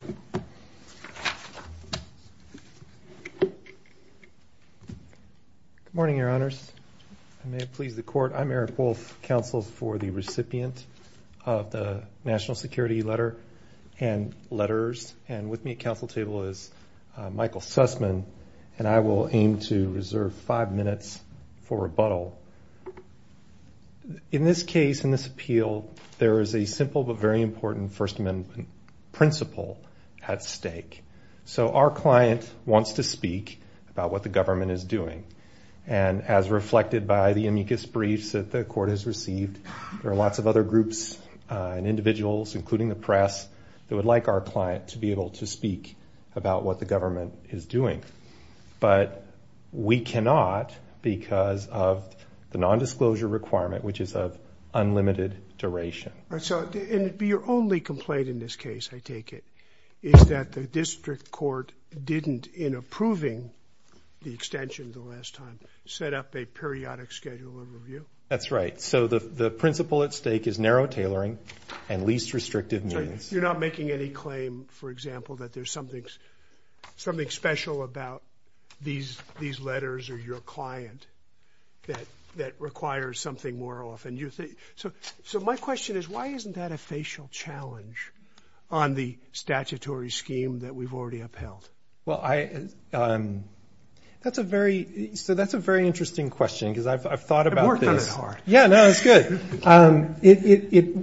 Good morning, your honors. I may please the court. I'm Eric Wolf, counsel for the recipient of the National Security Letter and Letters, and with me at counsel table is Michael Sussman, and I will aim to reserve five minutes for rebuttal. In this case, in this appeal, there is a simple but very important First Amendment principle at stake. So our client wants to speak about what the government is doing, and as reflected by the amicus briefs that the court has received, there are lots of other groups and individuals, including the press, that would like our client to be able to speak about what the government is doing. But we cannot because of the nondisclosure requirement, which is of unlimited duration. So your only complaint in this case, I take it, is that the district court didn't, in approving the extension the last time, set up a periodic schedule and review? That's right. So the principle at stake is narrow tailoring and least restrictive means. You're not making any claim, for example, that there's something special about these letters or your client that requires something more often. So my question is, why isn't that a facial challenge on the statutory scheme that we've already upheld? Well, that's a very interesting question because I've thought about this. I've worked on it hard. Yeah, no, it's good.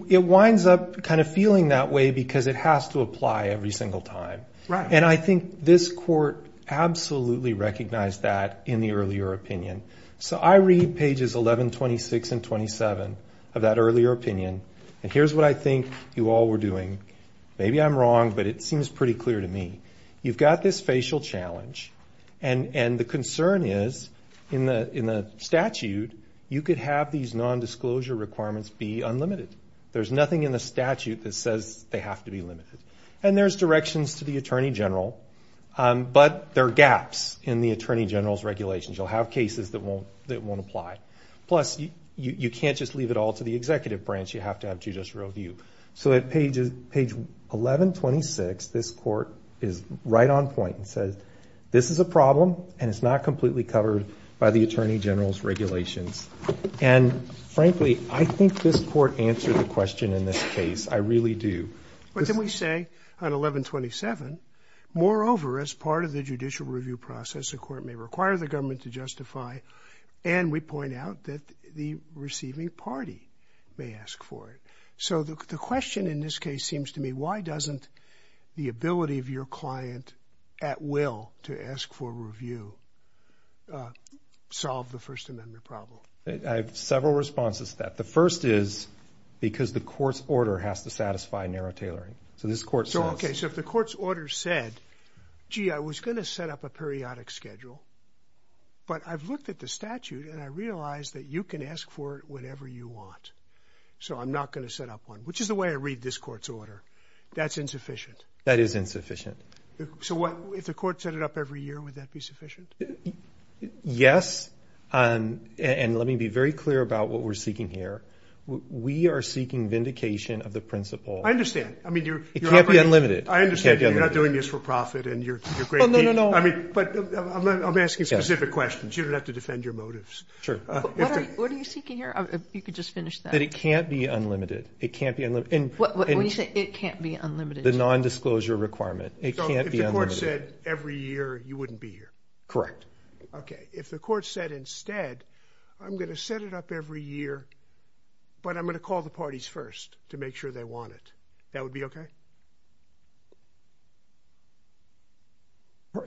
It winds up kind of feeling that way because it has to apply every single time. And I think this court absolutely recognized that in the earlier opinion. So I read pages 11, 26, and 27 of that earlier opinion, and here's what I think you all were doing. Maybe I'm wrong, but it seems pretty clear to me. You've got this facial challenge, and the concern is, in the statute, you could have these nondisclosure requirements be unlimited. There's nothing in the statute that says they have to be limited. And there's directions to the Attorney General, but there are gaps in the Attorney General's regulations. You'll have cases that won't apply. Plus, you can't just leave it all to the executive branch. You have to have judicial review. So at page 11, 26, this court is right on point and says, this is a problem, and it's not completely covered by the Attorney General's regulations. And frankly, I think this court answered the question in this case. I really do. But then we say on 11, 27, moreover, as part of the judicial review process, the court may require the government to justify, and we point out that the receiving party may ask for it. So the question in this case seems to me, why doesn't the ability of your client at will to ask for review solve the First Amendment problem? I have several responses to that. The first is because the court's order has to satisfy narrow tailoring. So this court says... So okay, so if the court's order said, gee, I was going to set up a periodic schedule, but I've looked at the statute, and I realize that you can ask for it whenever you want. So I'm not going to set up one, which is the way I read this court's order. That's insufficient. That is insufficient. So if the court set it up every year, would that be sufficient? Yes. And let me be very clear about what we're seeking here. We are seeking vindication of the principle... I understand. I mean, you're... It can't be unlimited. I understand you're not doing this for profit, and you're great people. I mean, but I'm asking specific questions. You don't have to defend your motives. Sure. What are you seeking here? You could just finish that. That it can't be unlimited. It can't be unlimited. What do you say? It can't be unlimited? The non-disclosure requirement. It can't be unlimited. So if the court said every year, you wouldn't be here? Correct. Okay. If the court said instead, I'm going to set it up every year, but I'm going to call the parties first to make sure they want it, that would be okay?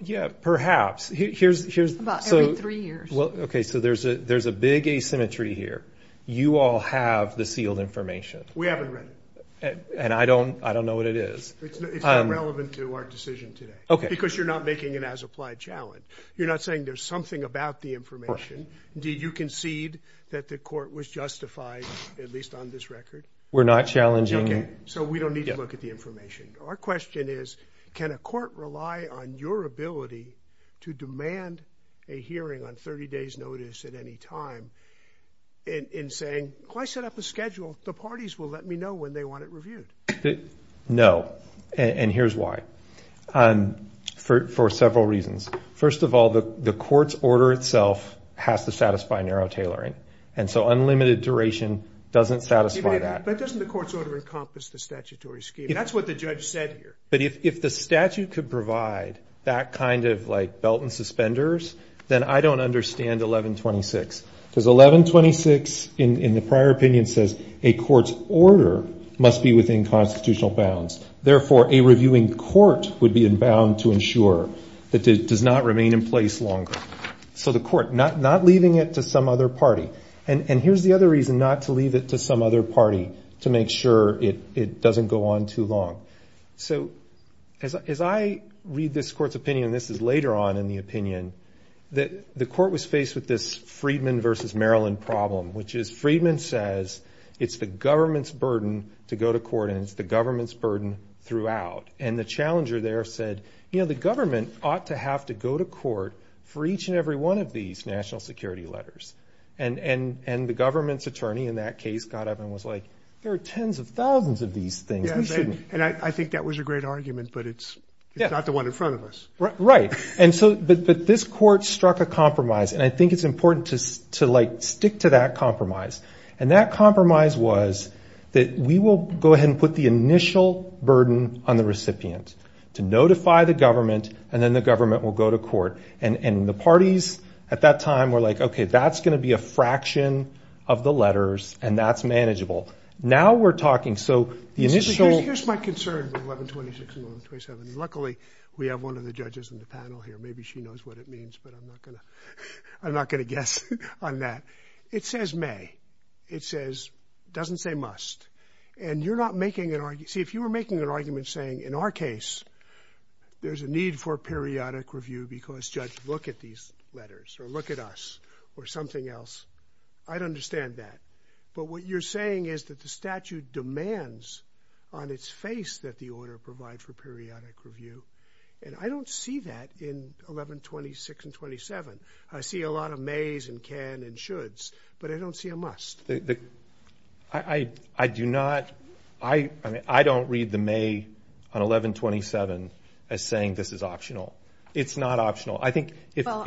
Yeah, perhaps. Here's... About every three years. Okay. So there's a big asymmetry here. You all have the sealed information. We haven't read it. And I don't know what it is. It's not relevant to our decision today. Okay. Because you're not making an as-applied challenge. You're not saying there's something about the information. Did you concede that the court was justified, at least on this record? We're not challenging... Okay. So we don't need to look at the information. Our question is, can a court rely on your ability to demand a hearing on 30 days notice at any time in saying, well, I set up a schedule. The parties will let me know when they want it reviewed. No. And here's why. For several reasons. First of all, the court's order itself has to satisfy narrow tailoring. And so unlimited duration doesn't satisfy that. But doesn't the court's order encompass the statutory scheme? That's what the judge said here. But if the statute could provide that kind of belt and suspenders, then I don't understand 1126. Because 1126, in the prior opinion, says a court's order must be within constitutional bounds. Therefore, a reviewing court would be inbound to ensure that it does not remain in place longer. So the court, not leaving it to some other party. And here's the other reason not to leave it to some other party to make sure it doesn't go on too long. So as I read this court's opinion, this is later on in the opinion, that the court was faced with this Friedman versus Maryland problem. Which is, Friedman says, it's the government's burden to go to court. And it's the government's burden throughout. And the challenger there said, you know, the government ought to have to go to court for each and every one of these national security letters. And the government's attorney, in that case, got up and was like, there are tens of thousands of these things. And I think that was a great argument, but it's not the one in front of us. Right. And so this court struck a compromise. And I think it's important to stick to that compromise. And that compromise was that we will go ahead and put the initial burden on the recipient to notify the government. And then the government will go to court. And the parties at that time were like, okay, that's going to be a fraction of the letters. And that's manageable. Now we're talking. So the initial- Here's my concern with 1126 and 1127. Luckily, we have one of the judges in the panel here. Maybe she knows what it means, but I'm not going to guess on that. It says may. It says, doesn't say must. And you're not making an argument. See, if you were making an argument saying, in our case, there's a need for periodic review because judge, look at these letters or look at us or something else. I'd understand that. But what you're saying is that the statute demands on its face that the order provide for periodic review. And I don't see that in 1126 and 1127. I see a lot of mays and can and shoulds, but I don't see a must. I mean, I don't read the may on 1127 as saying this is optional. It's not optional. I think if- Well,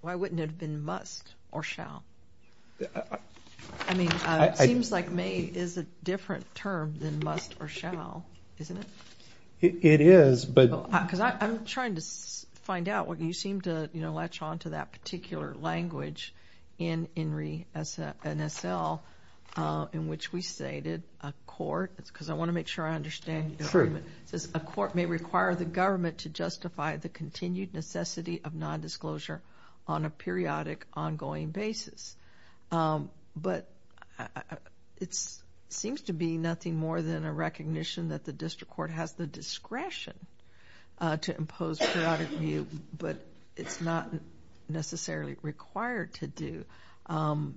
why wouldn't it have been must or shall? I mean, it seems like may is a different term than must or shall, isn't it? It is, but- Because I'm trying to find out what you seem to latch onto that particular language in INRI NSL in which we stated a court, because I want to make sure I understand. It says a court may require the government to justify the continued necessity of non-disclosure on a periodic, ongoing basis. But it seems to be nothing more than a recognition that the district court has the to do.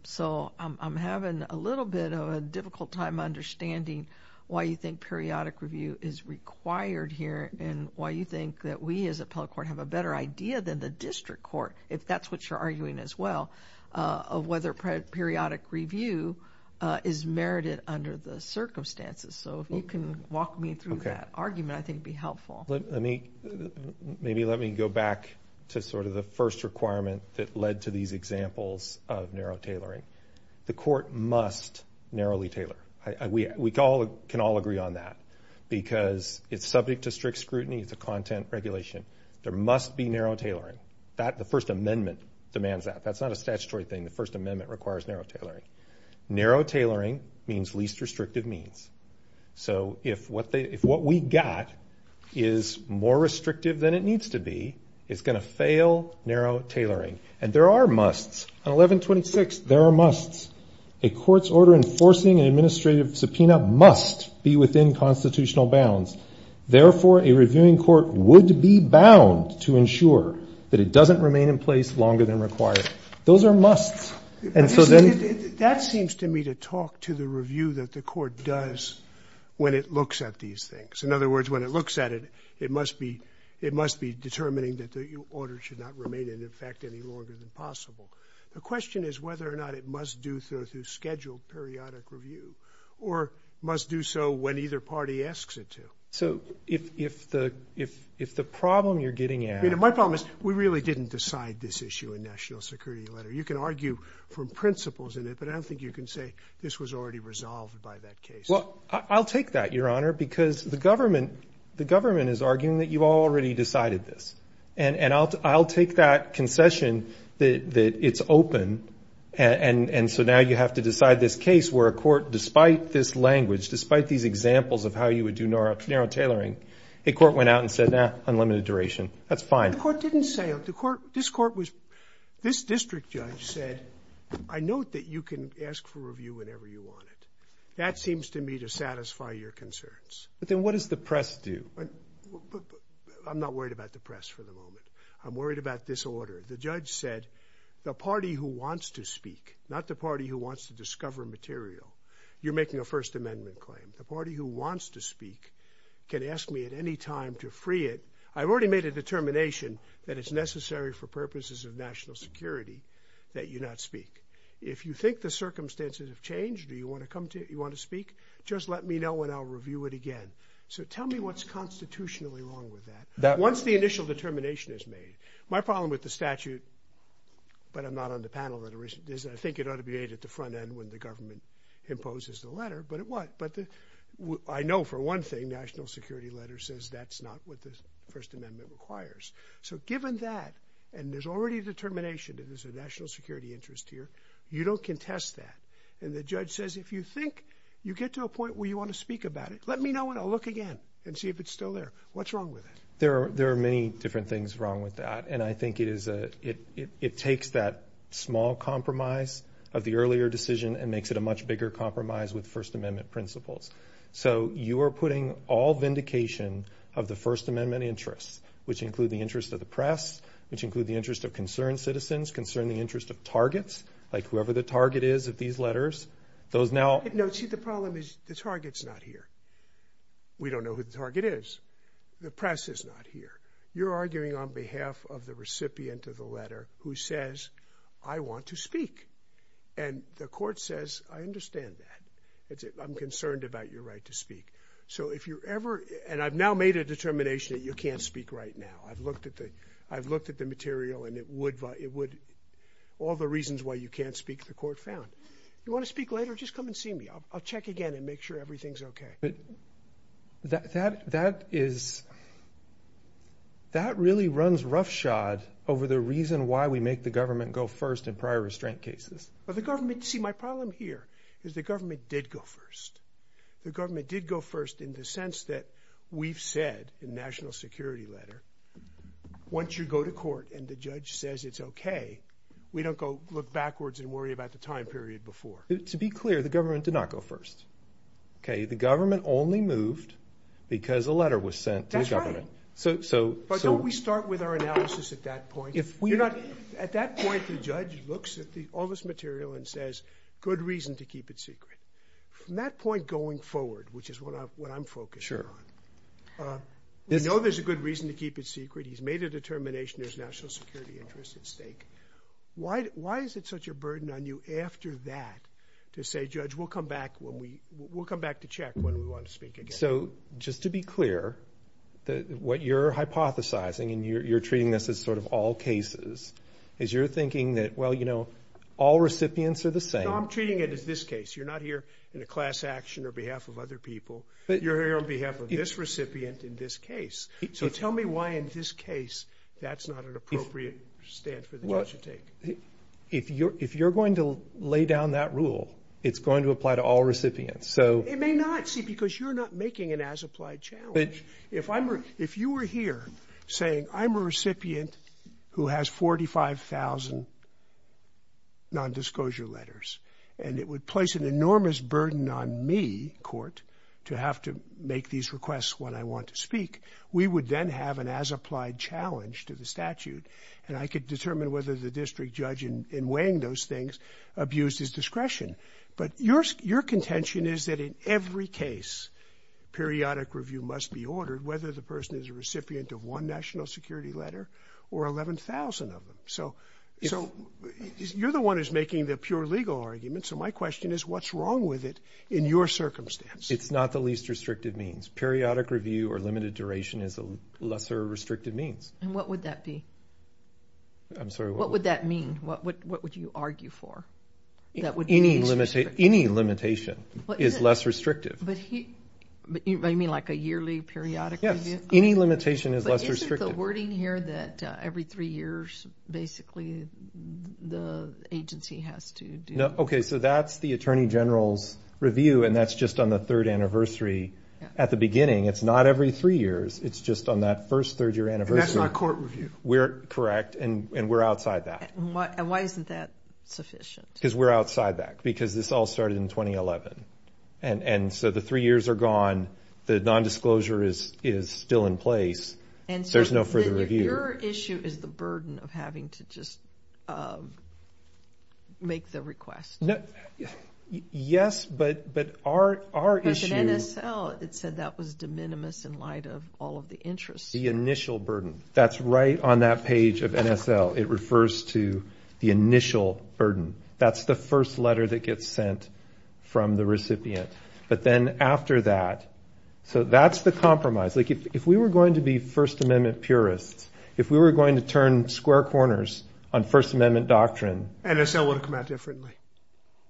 So I'm having a little bit of a difficult time understanding why you think periodic review is required here and why you think that we as a appellate court have a better idea than the district court, if that's what you're arguing as well, of whether periodic review is merited under the circumstances. So if you can walk me through that argument, I think it'd be helpful. Let me, maybe let me go back to sort of the first requirement that led to these examples of narrow tailoring. The court must narrowly tailor. We can all agree on that because it's subject to strict scrutiny. It's a content regulation. There must be narrow tailoring. The First Amendment demands that. That's not a statutory thing. The First Amendment requires narrow tailoring. Narrow tailoring means least restrictive means. So if what we got is more restrictive than it needs to be, it's going to fail narrow tailoring. And there are musts. On 1126, there are musts. A court's order enforcing an administrative subpoena must be within constitutional bounds. Therefore, a reviewing court would be bound to ensure that it doesn't remain in place longer than required. Those are musts. And so that seems to me to talk to the review that the court does when it looks at these things. In other words, when it looks at it, it must be determining that the order should not remain in effect any longer than possible. The question is whether or not it must do so through scheduled periodic review or must do so when either party asks it to. So if the problem you're getting at. My problem is we really didn't decide this issue in National Security Letter. You can argue for principles in it. But I don't think you can say this was already resolved by that case. Well, I'll take that, Your Honor, because the government is arguing that you've already decided this. And I'll take that concession that it's open. And so now you have to decide this case where a court, despite this language, despite these examples of how you would do narrow tailoring, a court went out and said, nah, unlimited duration. That's fine. The court didn't say the court. This court was this district judge said, I note that you can ask for review whenever you want it. That seems to me to satisfy your concerns. But then what does the press do? I'm not worried about the press for the moment. I'm worried about this order. The judge said the party who wants to speak, not the party who wants to discover material. You're making a First Amendment claim. The party who wants to speak can ask me at any time to free it. I've already made a determination that it's necessary for purposes of national security that you not speak. If you think the circumstances have changed, or you want to come to it, you want to speak, just let me know and I'll review it again. So tell me what's constitutionally wrong with that. Once the initial determination is made. My problem with the statute, but I'm not on the panel, is I think it ought to be made at the front end when the government imposes the letter. But it was. I know for one thing, the national security letter says that's not what the First Amendment requires. So given that, and there's already a determination that there's a national security interest here, you don't contest that. And the judge says, if you think you get to a point where you want to speak about it, let me know and I'll look again and see if it's still there. What's wrong with it? There are many different things wrong with that. And I think it takes that small compromise of the earlier decision and makes it a much larger compromise of the First Amendment principles. So you are putting all vindication of the First Amendment interests, which include the interest of the press, which include the interest of concerned citizens, concern the interest of targets, like whoever the target is of these letters, those now. No, see, the problem is the target's not here. We don't know who the target is. The press is not here. You're arguing on behalf of the recipient of the letter who says, I want to speak. And the court says, I understand that. I'm concerned about your right to speak. So if you're ever, and I've now made a determination that you can't speak right now. I've looked at the material and it would, all the reasons why you can't speak, the court found. You want to speak later? Just come and see me. I'll check again and make sure everything's OK. But that really runs roughshod over the reason why we make the government go first in prior restraint cases. But the government, see, my problem here is the government did go first. The government did go first in the sense that we've said in the national security letter, once you go to court and the judge says it's OK, we don't go look backwards and worry about the time period before. To be clear, the government did not go first. OK, the government only moved because a letter was sent to the government. That's right. But don't we start with our analysis at that point? At that point, the judge looks at all this material and says, good reason to keep it secret. From that point going forward, which is what I'm focusing on, we know there's a good reason to keep it secret. He's made a determination there's national security interest at stake. Why is it such a burden on you after that to say, judge, we'll come back to check when we want to speak again? So just to be clear, what you're hypothesizing, and you're treating this as sort of all cases, is you're thinking that, well, you know, all recipients are the same. No, I'm treating it as this case. You're not here in a class action or behalf of other people. You're here on behalf of this recipient in this case. So tell me why in this case that's not an appropriate stand for the judge to take. If you're going to lay down that rule, it's going to apply to all recipients. It may not, see, because you're not making an as-applied challenge. If you were here saying, I'm a recipient who has 45,000 non-disclosure letters, and it would place an enormous burden on me, court, to have to make these requests when I want to speak, we would then have an as-applied challenge to the statute, and I could determine whether the district judge in weighing those things abused his discretion. But your contention is that in every case, periodic review must be ordered, whether the person is a recipient of one national security letter or 11,000 of them. So you're the one who's making the pure legal argument. So my question is, what's wrong with it in your circumstance? It's not the least restrictive means. Periodic review or limited duration is a lesser restrictive means. And what would that be? I'm sorry. What would that mean? What would you argue for? Any limitation is less restrictive. But you mean like a yearly periodic review? Yes. Any limitation is less restrictive. But isn't the wording here that every three years, basically, the agency has to do? OK. So that's the Attorney General's review, and that's just on the third anniversary at the beginning. It's not every three years. It's just on that first third year anniversary. And that's not court review. We're correct, and we're outside that. And why isn't that sufficient? Because we're outside that. Because this all started in 2011. And so the three years are gone. The nondisclosure is still in place. And so there's no further review. Your issue is the burden of having to just make the request. Yes, but our issue is- Because in NSL, it said that was de minimis in light of all of the interests. The initial burden. That's right on that page of NSL. It refers to the initial burden. That's the first letter that gets sent from the recipient. But then after that, so that's the compromise. Like, if we were going to be First Amendment purists, if we were going to turn square corners on First Amendment doctrine- NSL would have come out differently.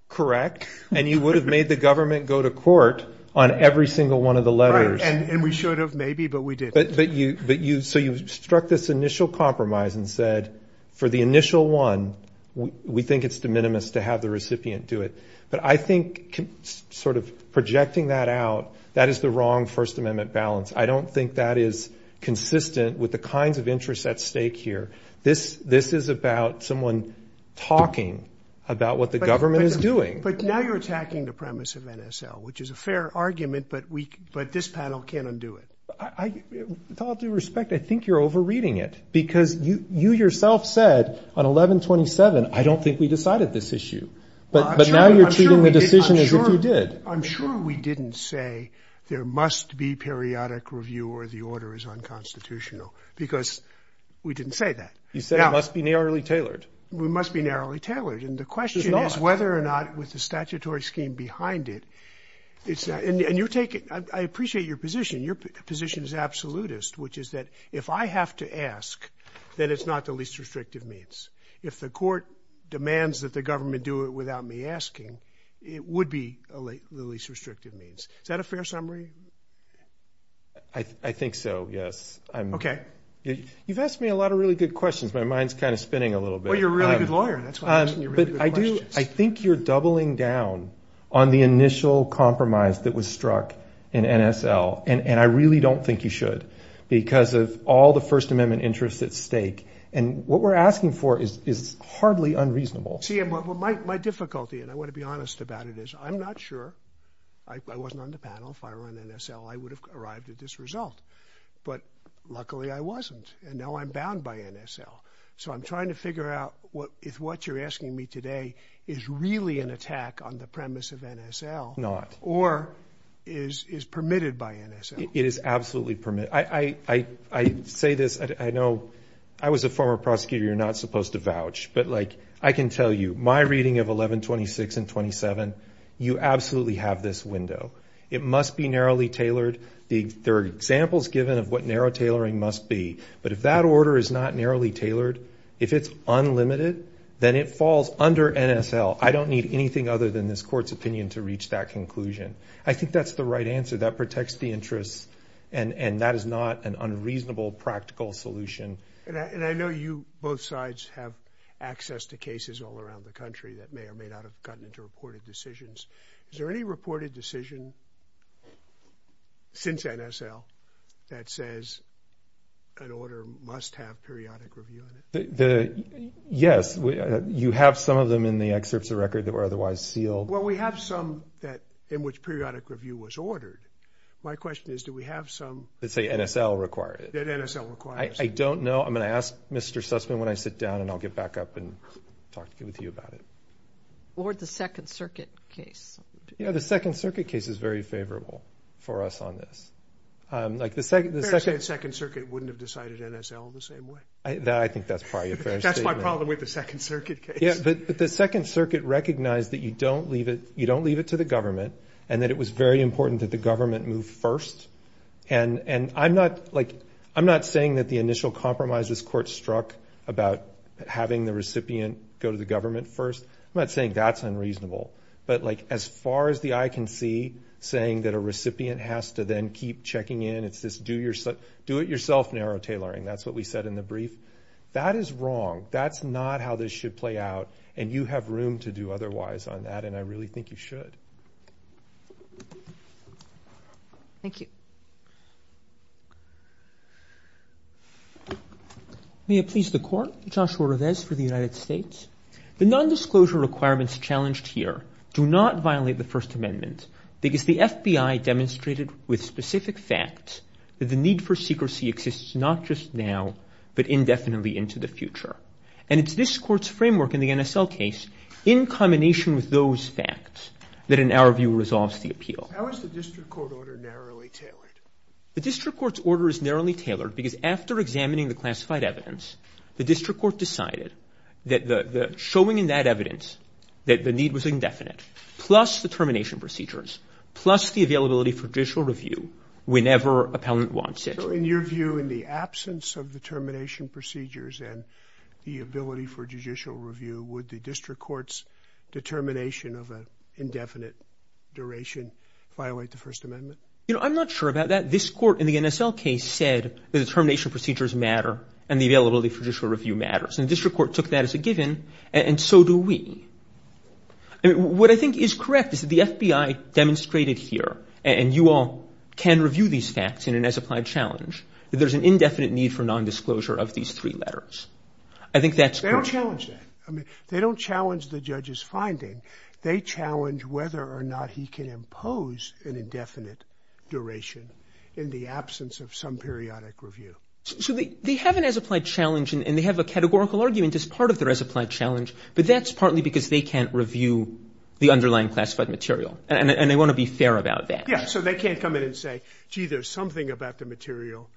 Correct. And you would have made the government go to court on every single one of the letters. Right, and we should have, maybe, but we didn't. So you struck this initial compromise and said, for the initial one, we think it's de minimis to have the recipient do it. But I think sort of projecting that out, that is the wrong First Amendment balance. I don't think that is consistent with the kinds of interests at stake here. This is about someone talking about what the government is doing. But now you're attacking the premise of NSL, which is a fair argument, but this panel can't undo it. With all due respect, I think you're overreading it. Because you yourself said on 11-27, I don't think we decided this issue. But now you're treating the decision as if you did. I'm sure we didn't say there must be periodic review or the order is unconstitutional. Because we didn't say that. You said it must be narrowly tailored. We must be narrowly tailored. And the question is whether or not, with the statutory scheme behind it, it's- and you're taking- I appreciate your position. Your position is absolutist, which is that if I have to ask, then it's not the least restrictive means. If the court demands that the government do it without me asking, it would be the least restrictive means. Is that a fair summary? I think so, yes. Okay. You've asked me a lot of really good questions. My mind's kind of spinning a little bit. Well, you're a really good lawyer. That's why I'm asking you really good questions. I think you're doubling down on the initial compromise that was struck in NSL. And I really don't think you should, because of all the First Amendment interests at stake. And what we're asking for is hardly unreasonable. See, my difficulty, and I want to be honest about it, is I'm not sure. I wasn't on the panel. If I were on NSL, I would have arrived at this result. But luckily, I wasn't. And now I'm bound by NSL. So I'm trying to figure out if what you're asking me today is really an attack on the premise of NSL- Not. Or is permitted by NSL. It is absolutely permitted. I say this. I know I was a former prosecutor. You're not supposed to vouch. But I can tell you, my reading of 1126 and 27, you absolutely have this window. It must be narrowly tailored. There are examples given of what narrow tailoring must be. But if that order is not narrowly tailored, if it's unlimited, then it falls under NSL. I don't need anything other than this court's opinion to reach that conclusion. I think that's the right answer. That protects the interests. And that is not an unreasonable practical solution. And I know you both sides have access to cases all around the country that may or may not have gotten into reported decisions. Is there any reported decision since NSL that says an order must have periodic review? Yes. You have some of them in the excerpts of record that were otherwise sealed. Well, we have some in which periodic review was ordered. My question is, do we have some- That say NSL required it. That NSL requires it. I don't know. I'm going to ask Mr. Sussman when I sit down, and I'll get back up and talk with you about it. Or the Second Circuit case. Yeah, the Second Circuit case is very favorable for us on this. Like the Second- I think that's probably a fair statement. That's my problem with the Second Circuit case. Yeah, but the Second Circuit recognized that you don't leave it to the government, and that it was very important that the government move first. And I'm not saying that the initial compromise this court struck about having the recipient go to the government first. I'm not saying that's unreasonable. But as far as the eye can see, saying that a recipient has to then keep checking in, it's this do-it-yourself narrow tailoring. That's what we said in the brief. That is wrong. That's not how this should play out, and you have room to do otherwise on that, and I really think you should. Thank you. May it please the Court. Joshua Revesz for the United States. The nondisclosure requirements challenged here do not violate the First Amendment because the FBI demonstrated with specific facts that the need for secrecy exists not just now, but indefinitely into the future. And it's this court's framework in the NSL case, in combination with those facts, that in our view resolves the appeal. How is the district court order narrowly tailored? The district court's order is narrowly tailored because after examining the classified evidence, the district court decided that showing in that evidence that the need was indefinite, plus the termination procedures, plus the availability for judicial review whenever appellant wants it. So in your view, in the absence of the termination procedures and the ability for judicial review, would the district court's determination of an indefinite duration violate the First Amendment? I'm not sure about that. This court in the NSL case said the termination procedures matter and the availability for judicial review matters, and the district court took that as a given, and so do we. What I think is correct is that the FBI demonstrated here, and you all can review these facts in an as-applied challenge, that there's an indefinite need for nondisclosure of these three letters. I think that's correct. They don't challenge that. I mean, they don't challenge the judge's finding. They challenge whether or not he can impose an indefinite duration in the absence of some periodic review. So they have an as-applied challenge, and they have a categorical argument as part of their as-applied challenge, but that's partly because they can't review the underlying classified material, and they want to be fair about that. Yeah, so they can't come in and say, gee, there's something about the material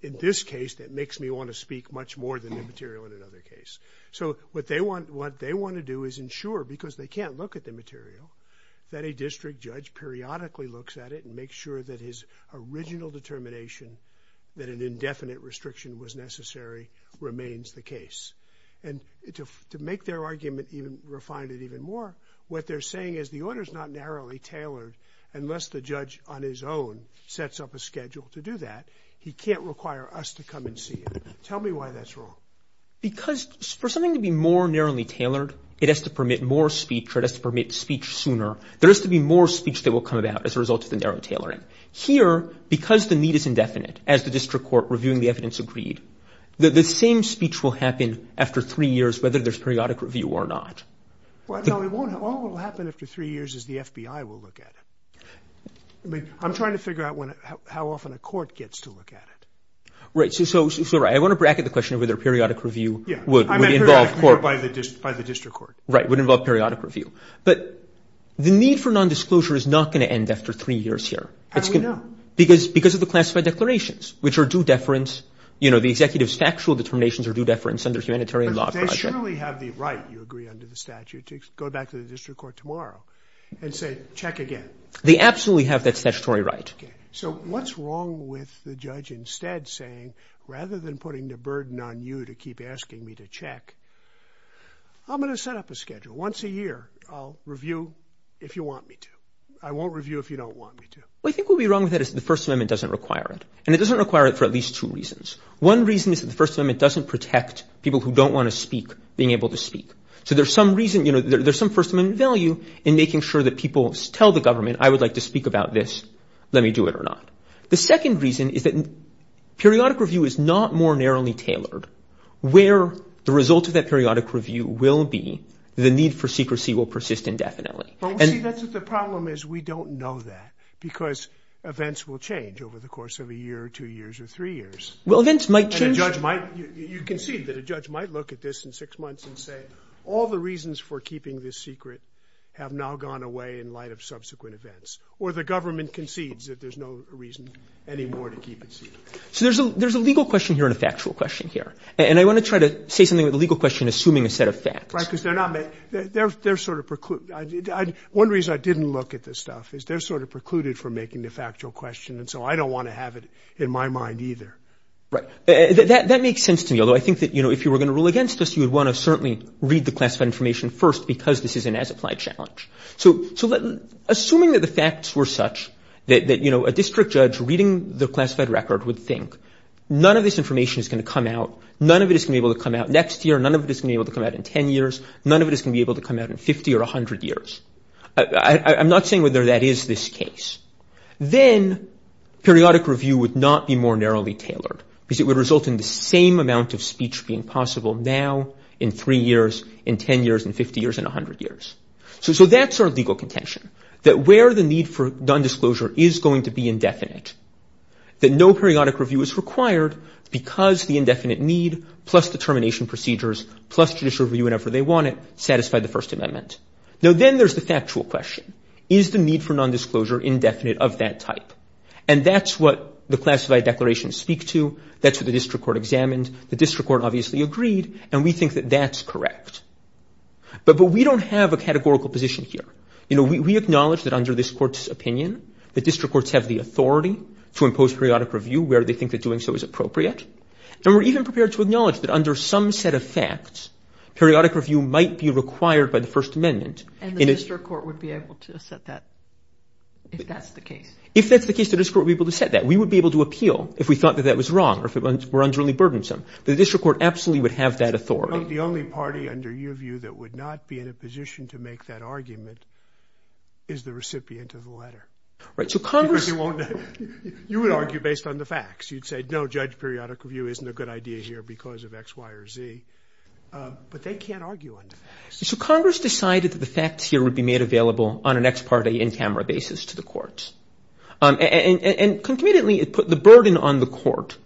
in this case that makes me want to speak much more than the material in another case. So what they want to do is ensure, because they can't look at the material, that a district judge periodically looks at it and makes sure that his original determination that an indefinite restriction was necessary remains the case. And to make their argument even refined even more, what they're saying is the order's not narrowly tailored unless the judge on his own sets up a schedule to do that. He can't require us to come and see it. Tell me why that's wrong. Because for something to be more narrowly tailored, it has to permit more speech or it has to permit speech sooner. There has to be more speech that will come about as a result of the narrow tailoring. Here, because the need is indefinite, as the district court reviewing the evidence agreed, the same speech will happen after three years, whether there's periodic review or not. No, it won't. All that will happen after three years is the FBI will look at it. I'm trying to figure out how often a court gets to look at it. Right, so I want to bracket the question of whether periodic review would involve court. By the district court. Right, would involve periodic review. But the need for nondisclosure is not going to end after three years here. How do we know? Because of the classified declarations, which are due deference. You know, the executive's factual determinations are due deference under humanitarian law. They surely have the right, you agree, under the statute to go back to the district court tomorrow and say, check again. They absolutely have that statutory right. So what's wrong with the judge instead saying, rather than putting the burden on you to keep asking me to check, I'm going to set up a schedule. Once a year, I'll review if you want me to. I won't review if you don't want me to. Well, I think what would be wrong with that is the First Amendment doesn't require it. And it doesn't require it for at least two reasons. One reason is that the First Amendment doesn't protect people who don't want to speak being able to speak. So there's some reason, you know, there's some First Amendment value in making sure that people tell the government, I would like to speak about this. Let me do it or not. The second reason is that periodic review is not more narrowly tailored. Where the result of that periodic review will be, the need for secrecy will persist indefinitely. But we see that's what the problem is. We don't know that because events will change over the course of a year or two years or three years. Well, events might change. You concede that a judge might look at this in six months and say, all the reasons for keeping this secret have now gone away in light of subsequent events. Or the government concedes that there's no reason anymore to keep it secret. So there's a legal question here and a factual question here. And I want to try to say something with the legal question assuming a set of facts. Right, because they're sort of precluded. One reason I didn't look at this stuff is they're sort of precluded for making the factual question. And so I don't want to have it in my mind either. Right, that makes sense to me. Although I think that, you know, if you were going to rule against us, you would want to certainly read the classified information first because this is an as-applied challenge. So assuming that the facts were such that, you know, a district judge reading the classified record would think, none of this information is going to come out, none of it is going to be able to come out next year, none of it is going to be able to come out in 10 years, none of it is going to be able to come out in 50 or 100 years. I'm not saying whether that is this case. Then periodic review would not be more narrowly tailored because it would result in the same amount of speech being possible now in three years, in 10 years, in 50 years, in 100 years. So that's our legal contention, that where the need for nondisclosure is going to be indefinite, that no periodic review is required because the indefinite need plus the termination procedures, plus judicial review whenever they want it, satisfy the First Amendment. Now then there's the factual question. Is the need for nondisclosure indefinite of that type? And that's what the classified declarations speak to, that's what the district court examined, the district court obviously agreed, and we think that that's correct. But we don't have a categorical position here. You know, we acknowledge that under this court's opinion, the district courts have the authority to impose periodic review where they think that doing so is appropriate. And we're even prepared to acknowledge that under some set of facts, periodic review might be required by the First Amendment. And the district court would be able to set that, if that's the case? If that's the case, the district court would be able to set that. We would be able to appeal if we thought that that was wrong, or if it were underly burdensome. The district court absolutely would have that authority. The only party under your view that would not be in a position to make that argument is the recipient of the letter. Right, so Congress... You would argue based on the facts. You'd say, no, judge, periodic review isn't a good idea here because of X, Y, or Z. But they can't argue on the facts. So Congress decided that the facts here would be made available on an ex parte, in-camera basis to the courts. And concomitantly, it put the burden on the court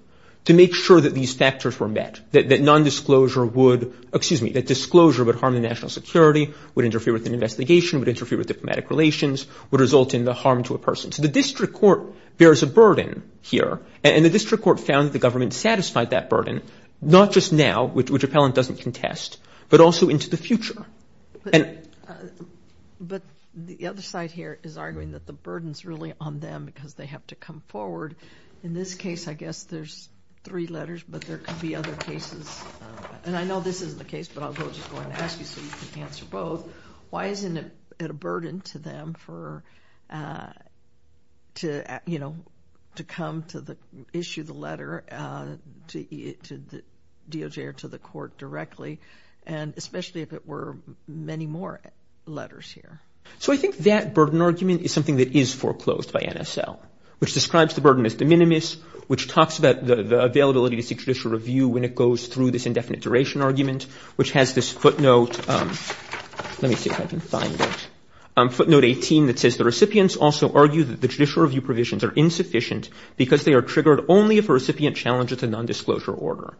to make sure that these factors were met, that non-disclosure would... Excuse me, that disclosure would harm the national security, would interfere with an investigation, would interfere with diplomatic relations, would result in the harm to a person. So the district court bears a burden here. And the district court found that the government satisfied that burden, not just now, which Appellant doesn't contest, but also into the future. But the other side here is arguing that the burden's really on them because they have to come forward. In this case, I guess there's three letters, but there could be other cases. And I know this isn't the case, but I'll just go ahead and ask you so you can answer both. Why isn't it a burden to them to come to issue the letter to the DOJ or to the court directly? And especially if it were many more letters here. So I think that burden argument is something that is foreclosed by NSL, which describes the burden as de minimis, which talks about the availability to seek judicial review when it goes through this indefinite duration argument, which has this footnote... Let me see if I can find it. Footnote 18 that says, the recipients also argue that the judicial review provisions are insufficient because they are triggered only if a recipient challenges a non-disclosure order.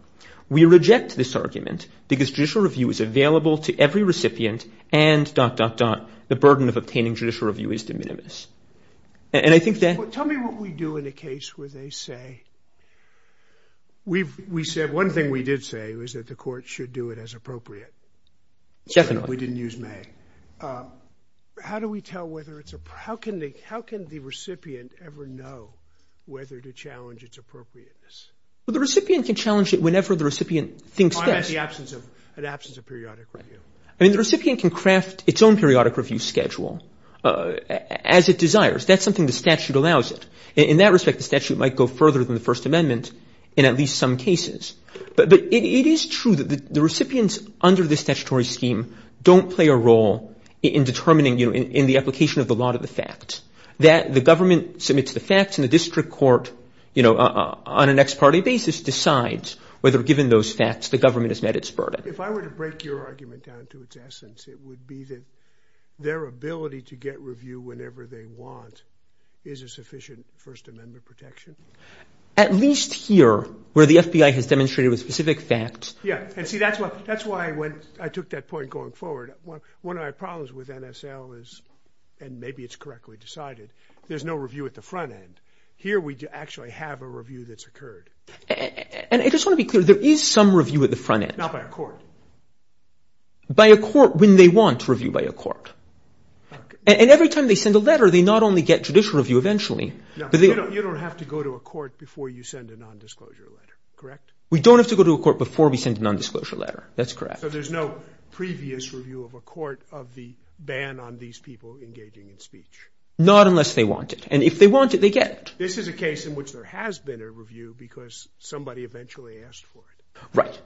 We reject this argument because judicial review is available to every recipient and dot, dot, dot, the burden of obtaining judicial review is de minimis. And I think that... Tell me what we do in a case where they say... One thing we did say was that the court should do it as appropriate. Definitely. We didn't use may. How do we tell whether it's... How can the recipient ever know whether to challenge its appropriateness? Well, the recipient can challenge it whenever the recipient thinks best. I'm at the absence of periodic review. I mean, the recipient can craft its own periodic review schedule as it desires. That's something the statute allows it. In that respect, the statute might go further than the First Amendment in at least some cases. But it is true that the recipients under this statutory scheme don't play a role in determining, in the application of the law to the fact that the government submits the facts and the district court, you know, on a next party basis, decides whether given those facts, the government has met its burden. If I were to break your argument down to its essence, it would be that their ability to get review whenever they want is a sufficient First Amendment protection. At least here, where the FBI has demonstrated with specific facts. Yeah, and see, that's why I went... I took that point going forward. One of my problems with NSL is, and maybe it's correctly decided, there's no review at the front end. Here, we actually have a review that's occurred. And I just want to be clear, there is some review at the front end. Not by a court. By a court when they want review by a court. And every time they send a letter, they not only get judicial review eventually, but they... You don't have to go to a court before you send a non-disclosure letter, correct? We don't have to go to a court before we send a non-disclosure letter. That's correct. So there's no previous review of a court of the ban on these people engaging in speech? Not unless they want it. And if they want it, they get it. This is a case in which there has been a review because somebody eventually asked for it. Right.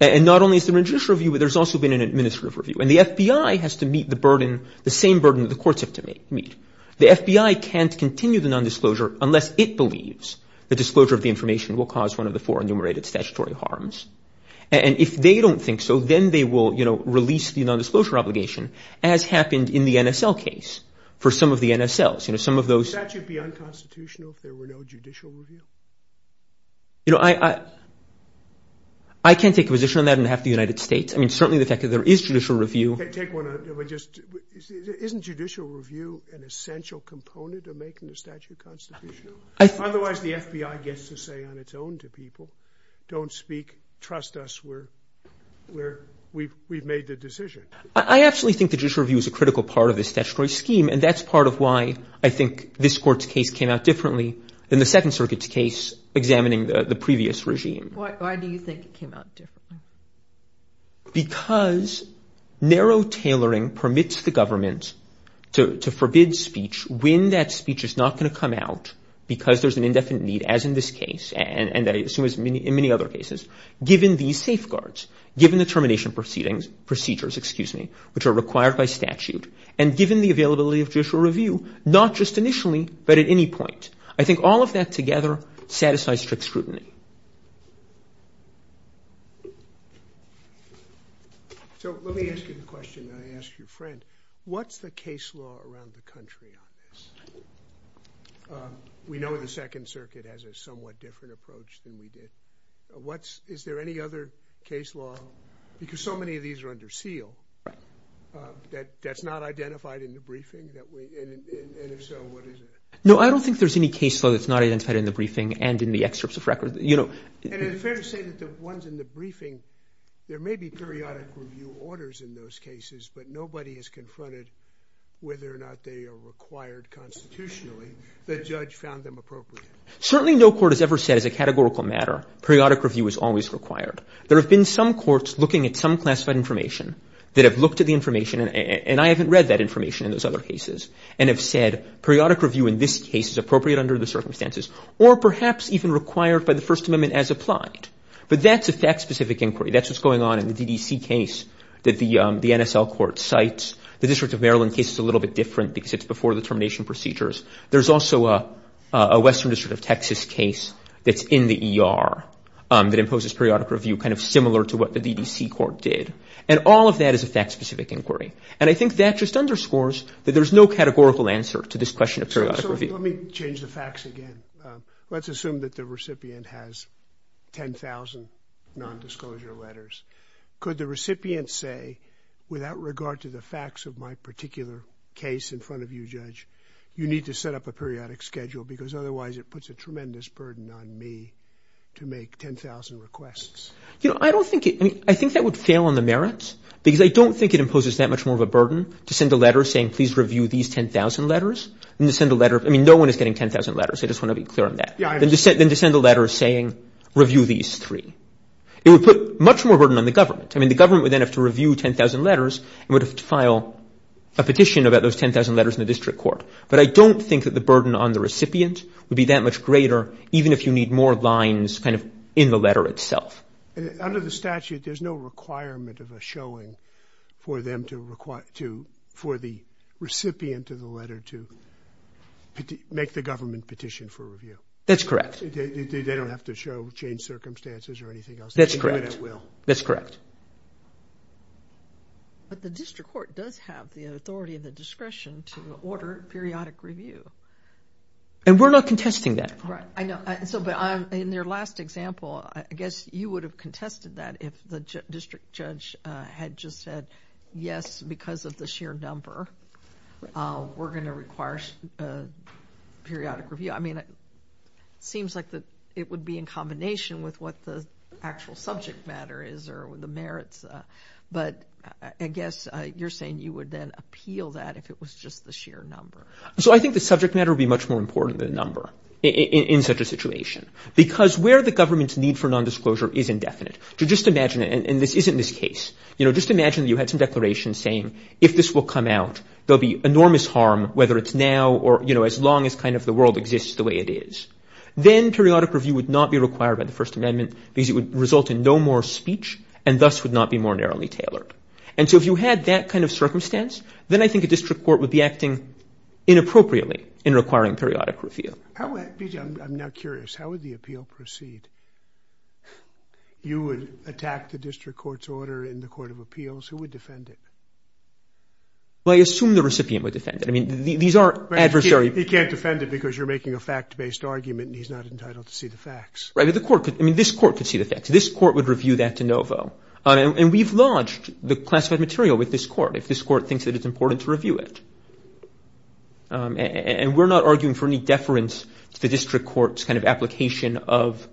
And not only is there a judicial review, but there's also been an administrative review. And the FBI has to meet the burden, the same burden that the courts have to meet. The FBI can't continue the non-disclosure unless it believes the disclosure of the information will cause one of the four enumerated statutory harms. And if they don't think so, then they will release the non-disclosure obligation, as happened in the NSL case for some of the NSLs. You know, some of those... Would the statute be unconstitutional if there were no judicial review? You know, I can't take a position on that on behalf of the United States. I mean, certainly the fact that there is judicial review. Isn't judicial review an essential component of making the statute constitutional? Otherwise, the FBI gets to say on its own to people, don't speak, trust us, we've made the decision. I actually think the judicial review is a critical part of the statutory scheme, and that's part of why I think this court's case came out differently than the Second Circuit's case examining the previous regime. Why do you think it came out differently? Because narrow tailoring permits the government to forbid speech when that speech is not going to come out because there's an indefinite need, as in this case, and I assume in many other cases, given these safeguards, given the termination procedures, which are required by statute, and given the availability of judicial review, not just initially, but at any point. I think all of that together satisfies strict scrutiny. So let me ask you a question. I asked your friend, what's the case law around the country on this? We know the Second Circuit has a somewhat different approach than we did. Is there any other case law? Because so many of these are under seal. That's not identified in the briefing? And if so, what is it? No, I don't think there's any case law that's not identified in the briefing and in the excerpts of records. And is it fair to say that the ones in the briefing, there may be periodic review orders in those cases, but nobody has confronted whether or not they are required constitutionally. The judge found them appropriate. Certainly no court has ever said as a categorical matter, periodic review is always required. There have been some courts looking at some classified information that have looked at the information, and I haven't read that information in those other cases, and have said periodic review in this case is appropriate under the circumstances, or perhaps even required by the First Amendment as applied. But that's a fact-specific inquiry. That's what's going on in the DDC case that the NSL court cites. The District of Maryland case is a little bit different because it's before the termination procedures. There's also a Western District of Texas case that's in the ER that imposes periodic review, kind of similar to what the DDC court did. And all of that is a fact-specific inquiry. And I think that just underscores that there's no categorical answer to this question of periodic review. Let me change the facts again. Let's assume that the recipient has 10,000 non-disclosure letters. Could the recipient say, without regard to the facts of my particular case in front of you, Judge, you need to set up a periodic schedule because otherwise it puts a tremendous burden on me to make 10,000 requests? You know, I don't think it... I think that would fail on the merits because I don't think it imposes that much more of a burden to send a letter saying, please review these 10,000 letters. And to send a letter... I mean, no one is getting 10,000 letters. I just want to be clear on that. Then to send a letter saying, review these three. It would put much more burden on the government. I mean, the government would then have to review 10,000 letters and would have to file a petition about those 10,000 letters in the district court. But I don't think that the burden on the recipient would be that much greater even if you need more lines kind of in the letter itself. And under the statute, there's no requirement of a showing for the recipient of the letter to make the government petition for review. That's correct. They don't have to show change circumstances or anything else. That's correct. Even at will. That's correct. But the district court does have the authority and the discretion to order periodic review. And we're not contesting that. Right. I know. In your last example, I guess you would have contested that if the district judge had just said, yes, because of the sheer number, we're going to require periodic review. I mean, it seems like it would be in combination with what the actual subject matter is or the merits. But I guess you're saying you would then appeal that if it was just the sheer number. So I think the subject matter would be much more important than the number in such a situation because where the government's need for nondisclosure is indefinite. So just imagine it. And this isn't this case. You know, just imagine you had some declaration saying, if this will come out, there'll be enormous harm, whether it's now or, you know, as long as kind of the world exists the way it is. Then periodic review would not be required by the First Amendment because it would result in no more speech and thus would not be more narrowly tailored. And so if you had that kind of circumstance, then I think a district court would be acting inappropriately in requiring periodic review. How would, BJ, I'm now curious, how would the appeal proceed? You would attack the district court's order in the Court of Appeals. Who would defend it? Well, I assume the recipient would defend it. I mean, these are adversaries. He can't defend it because you're making a fact-based argument and he's not entitled to see the facts. Right, but the court could, I mean, this court could see the facts. This court would review that de novo. And we've lodged the classified material with this court if this court thinks that it's important to review it. And we're not arguing for any deference to the district court's kind of application of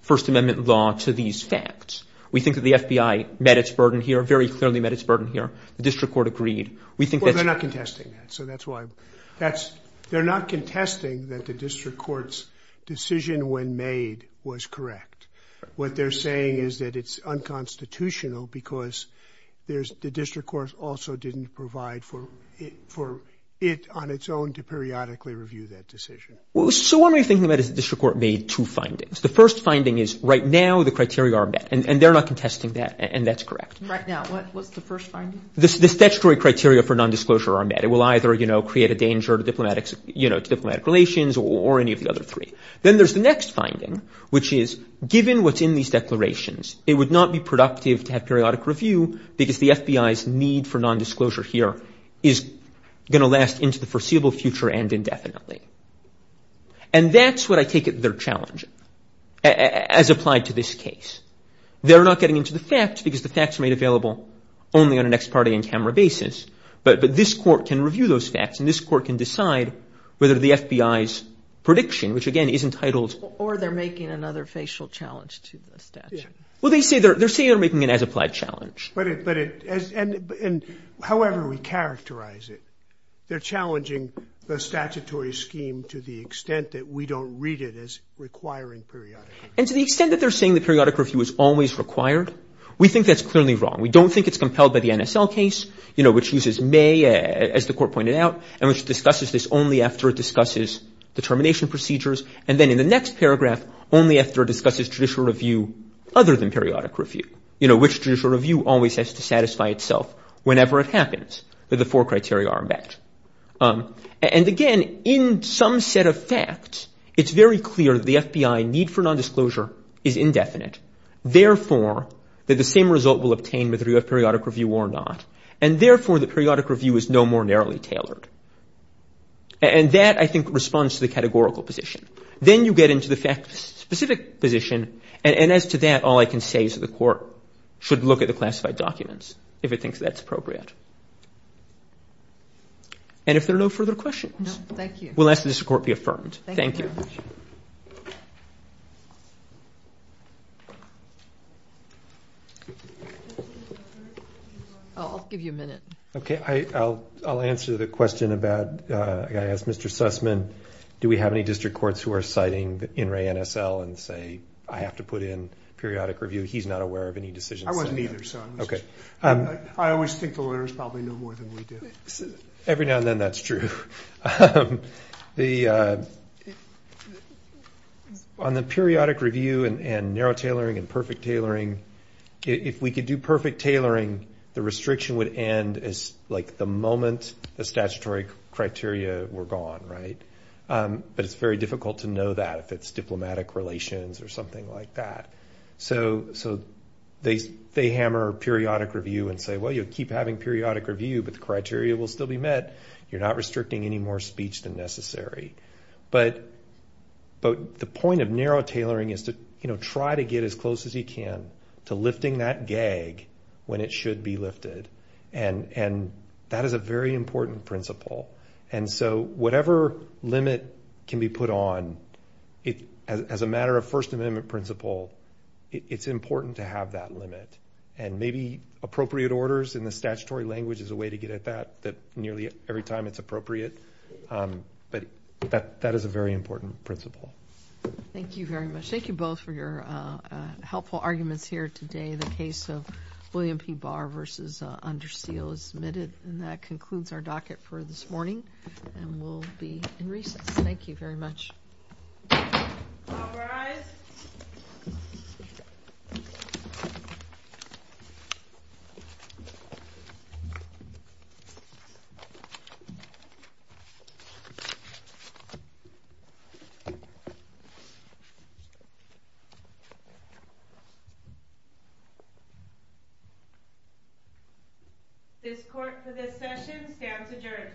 First Amendment law to these facts. We think that the FBI met its burden here, very clearly met its burden here. The district court agreed. We think that's- Well, they're not contesting that. So that's why that's, they're not contesting that the district court's decision when made was correct. What they're saying is that it's unconstitutional because there's, the district court also didn't provide for it on its own to periodically review that decision. Well, so what we're thinking about is the district court made two findings. The first finding is right now, the criteria are met and they're not contesting that. And that's correct. Right now, what's the first finding? The statutory criteria for non-disclosure are met. It will either, you know, create a danger to diplomatic, you know, diplomatic relations or any of the other three. Then there's the next finding, which is given what's in these declarations, it would not be productive to have periodic review because the FBI's need for non-disclosure here is going to last into the foreseeable future and indefinitely. And that's what I take it they're challenging as applied to this case. They're not getting into the facts because the facts are made available only on an ex parte and camera basis. But this court can review those facts and this court can decide whether the FBI's prediction, which again is entitled- Making another facial challenge to the statute. Well, they say they're making an as applied challenge. But however we characterize it, they're challenging the statutory scheme to the extent that we don't read it as requiring periodic review. And to the extent that they're saying the periodic review is always required, we think that's clearly wrong. We don't think it's compelled by the NSL case, you know, which uses May, as the court pointed out, and which discusses this only after it discusses the termination procedures. And then in the next paragraph, only after it discusses judicial review other than periodic review. You know, which judicial review always has to satisfy itself whenever it happens, that the four criteria are met. And again, in some set of facts, it's very clear that the FBI need for non-disclosure is indefinite. Therefore, that the same result will obtain whether you have periodic review or not. And therefore, the periodic review is no more narrowly tailored. And that, I think, responds to the categorical position. Then you get into the fact specific position. And as to that, all I can say is that the court should look at the classified documents if it thinks that's appropriate. And if there are no further questions. No, thank you. We'll ask that this report be affirmed. Thank you. Oh, I'll give you a minute. Okay, I'll answer the question about, I gotta ask Mr. Sussman, do we have any district courts who are citing the NRA NSL and say, I have to put in periodic review? He's not aware of any decisions. I wasn't either. I always think the lawyers probably know more than we do. Every now and then, that's true. On the periodic review and narrow tailoring and perfect tailoring, if we could do perfect tailoring, the restriction would end as like the moment the statutory criteria were gone, right? But it's very difficult to know that if it's diplomatic relations or something like that. So they hammer periodic review and say, well, you'll keep having periodic review, but the criteria will still be met. You're not restricting any more speech than necessary. But the point of narrow tailoring is to try to get as close as you can to lifting that gag when it should be lifted. And that is a very important principle. And so whatever limit can be put on, as a matter of First Amendment principle, it's important to have that limit. And maybe appropriate orders in the statutory language is a way to get at that, that nearly every time it's appropriate. But that is a very important principle. Thank you very much. Thank you both for your helpful arguments here today. The case of William P. Barr versus Under Seal is submitted. And that concludes our docket for this morning. And we'll be in recess. Thank you very much.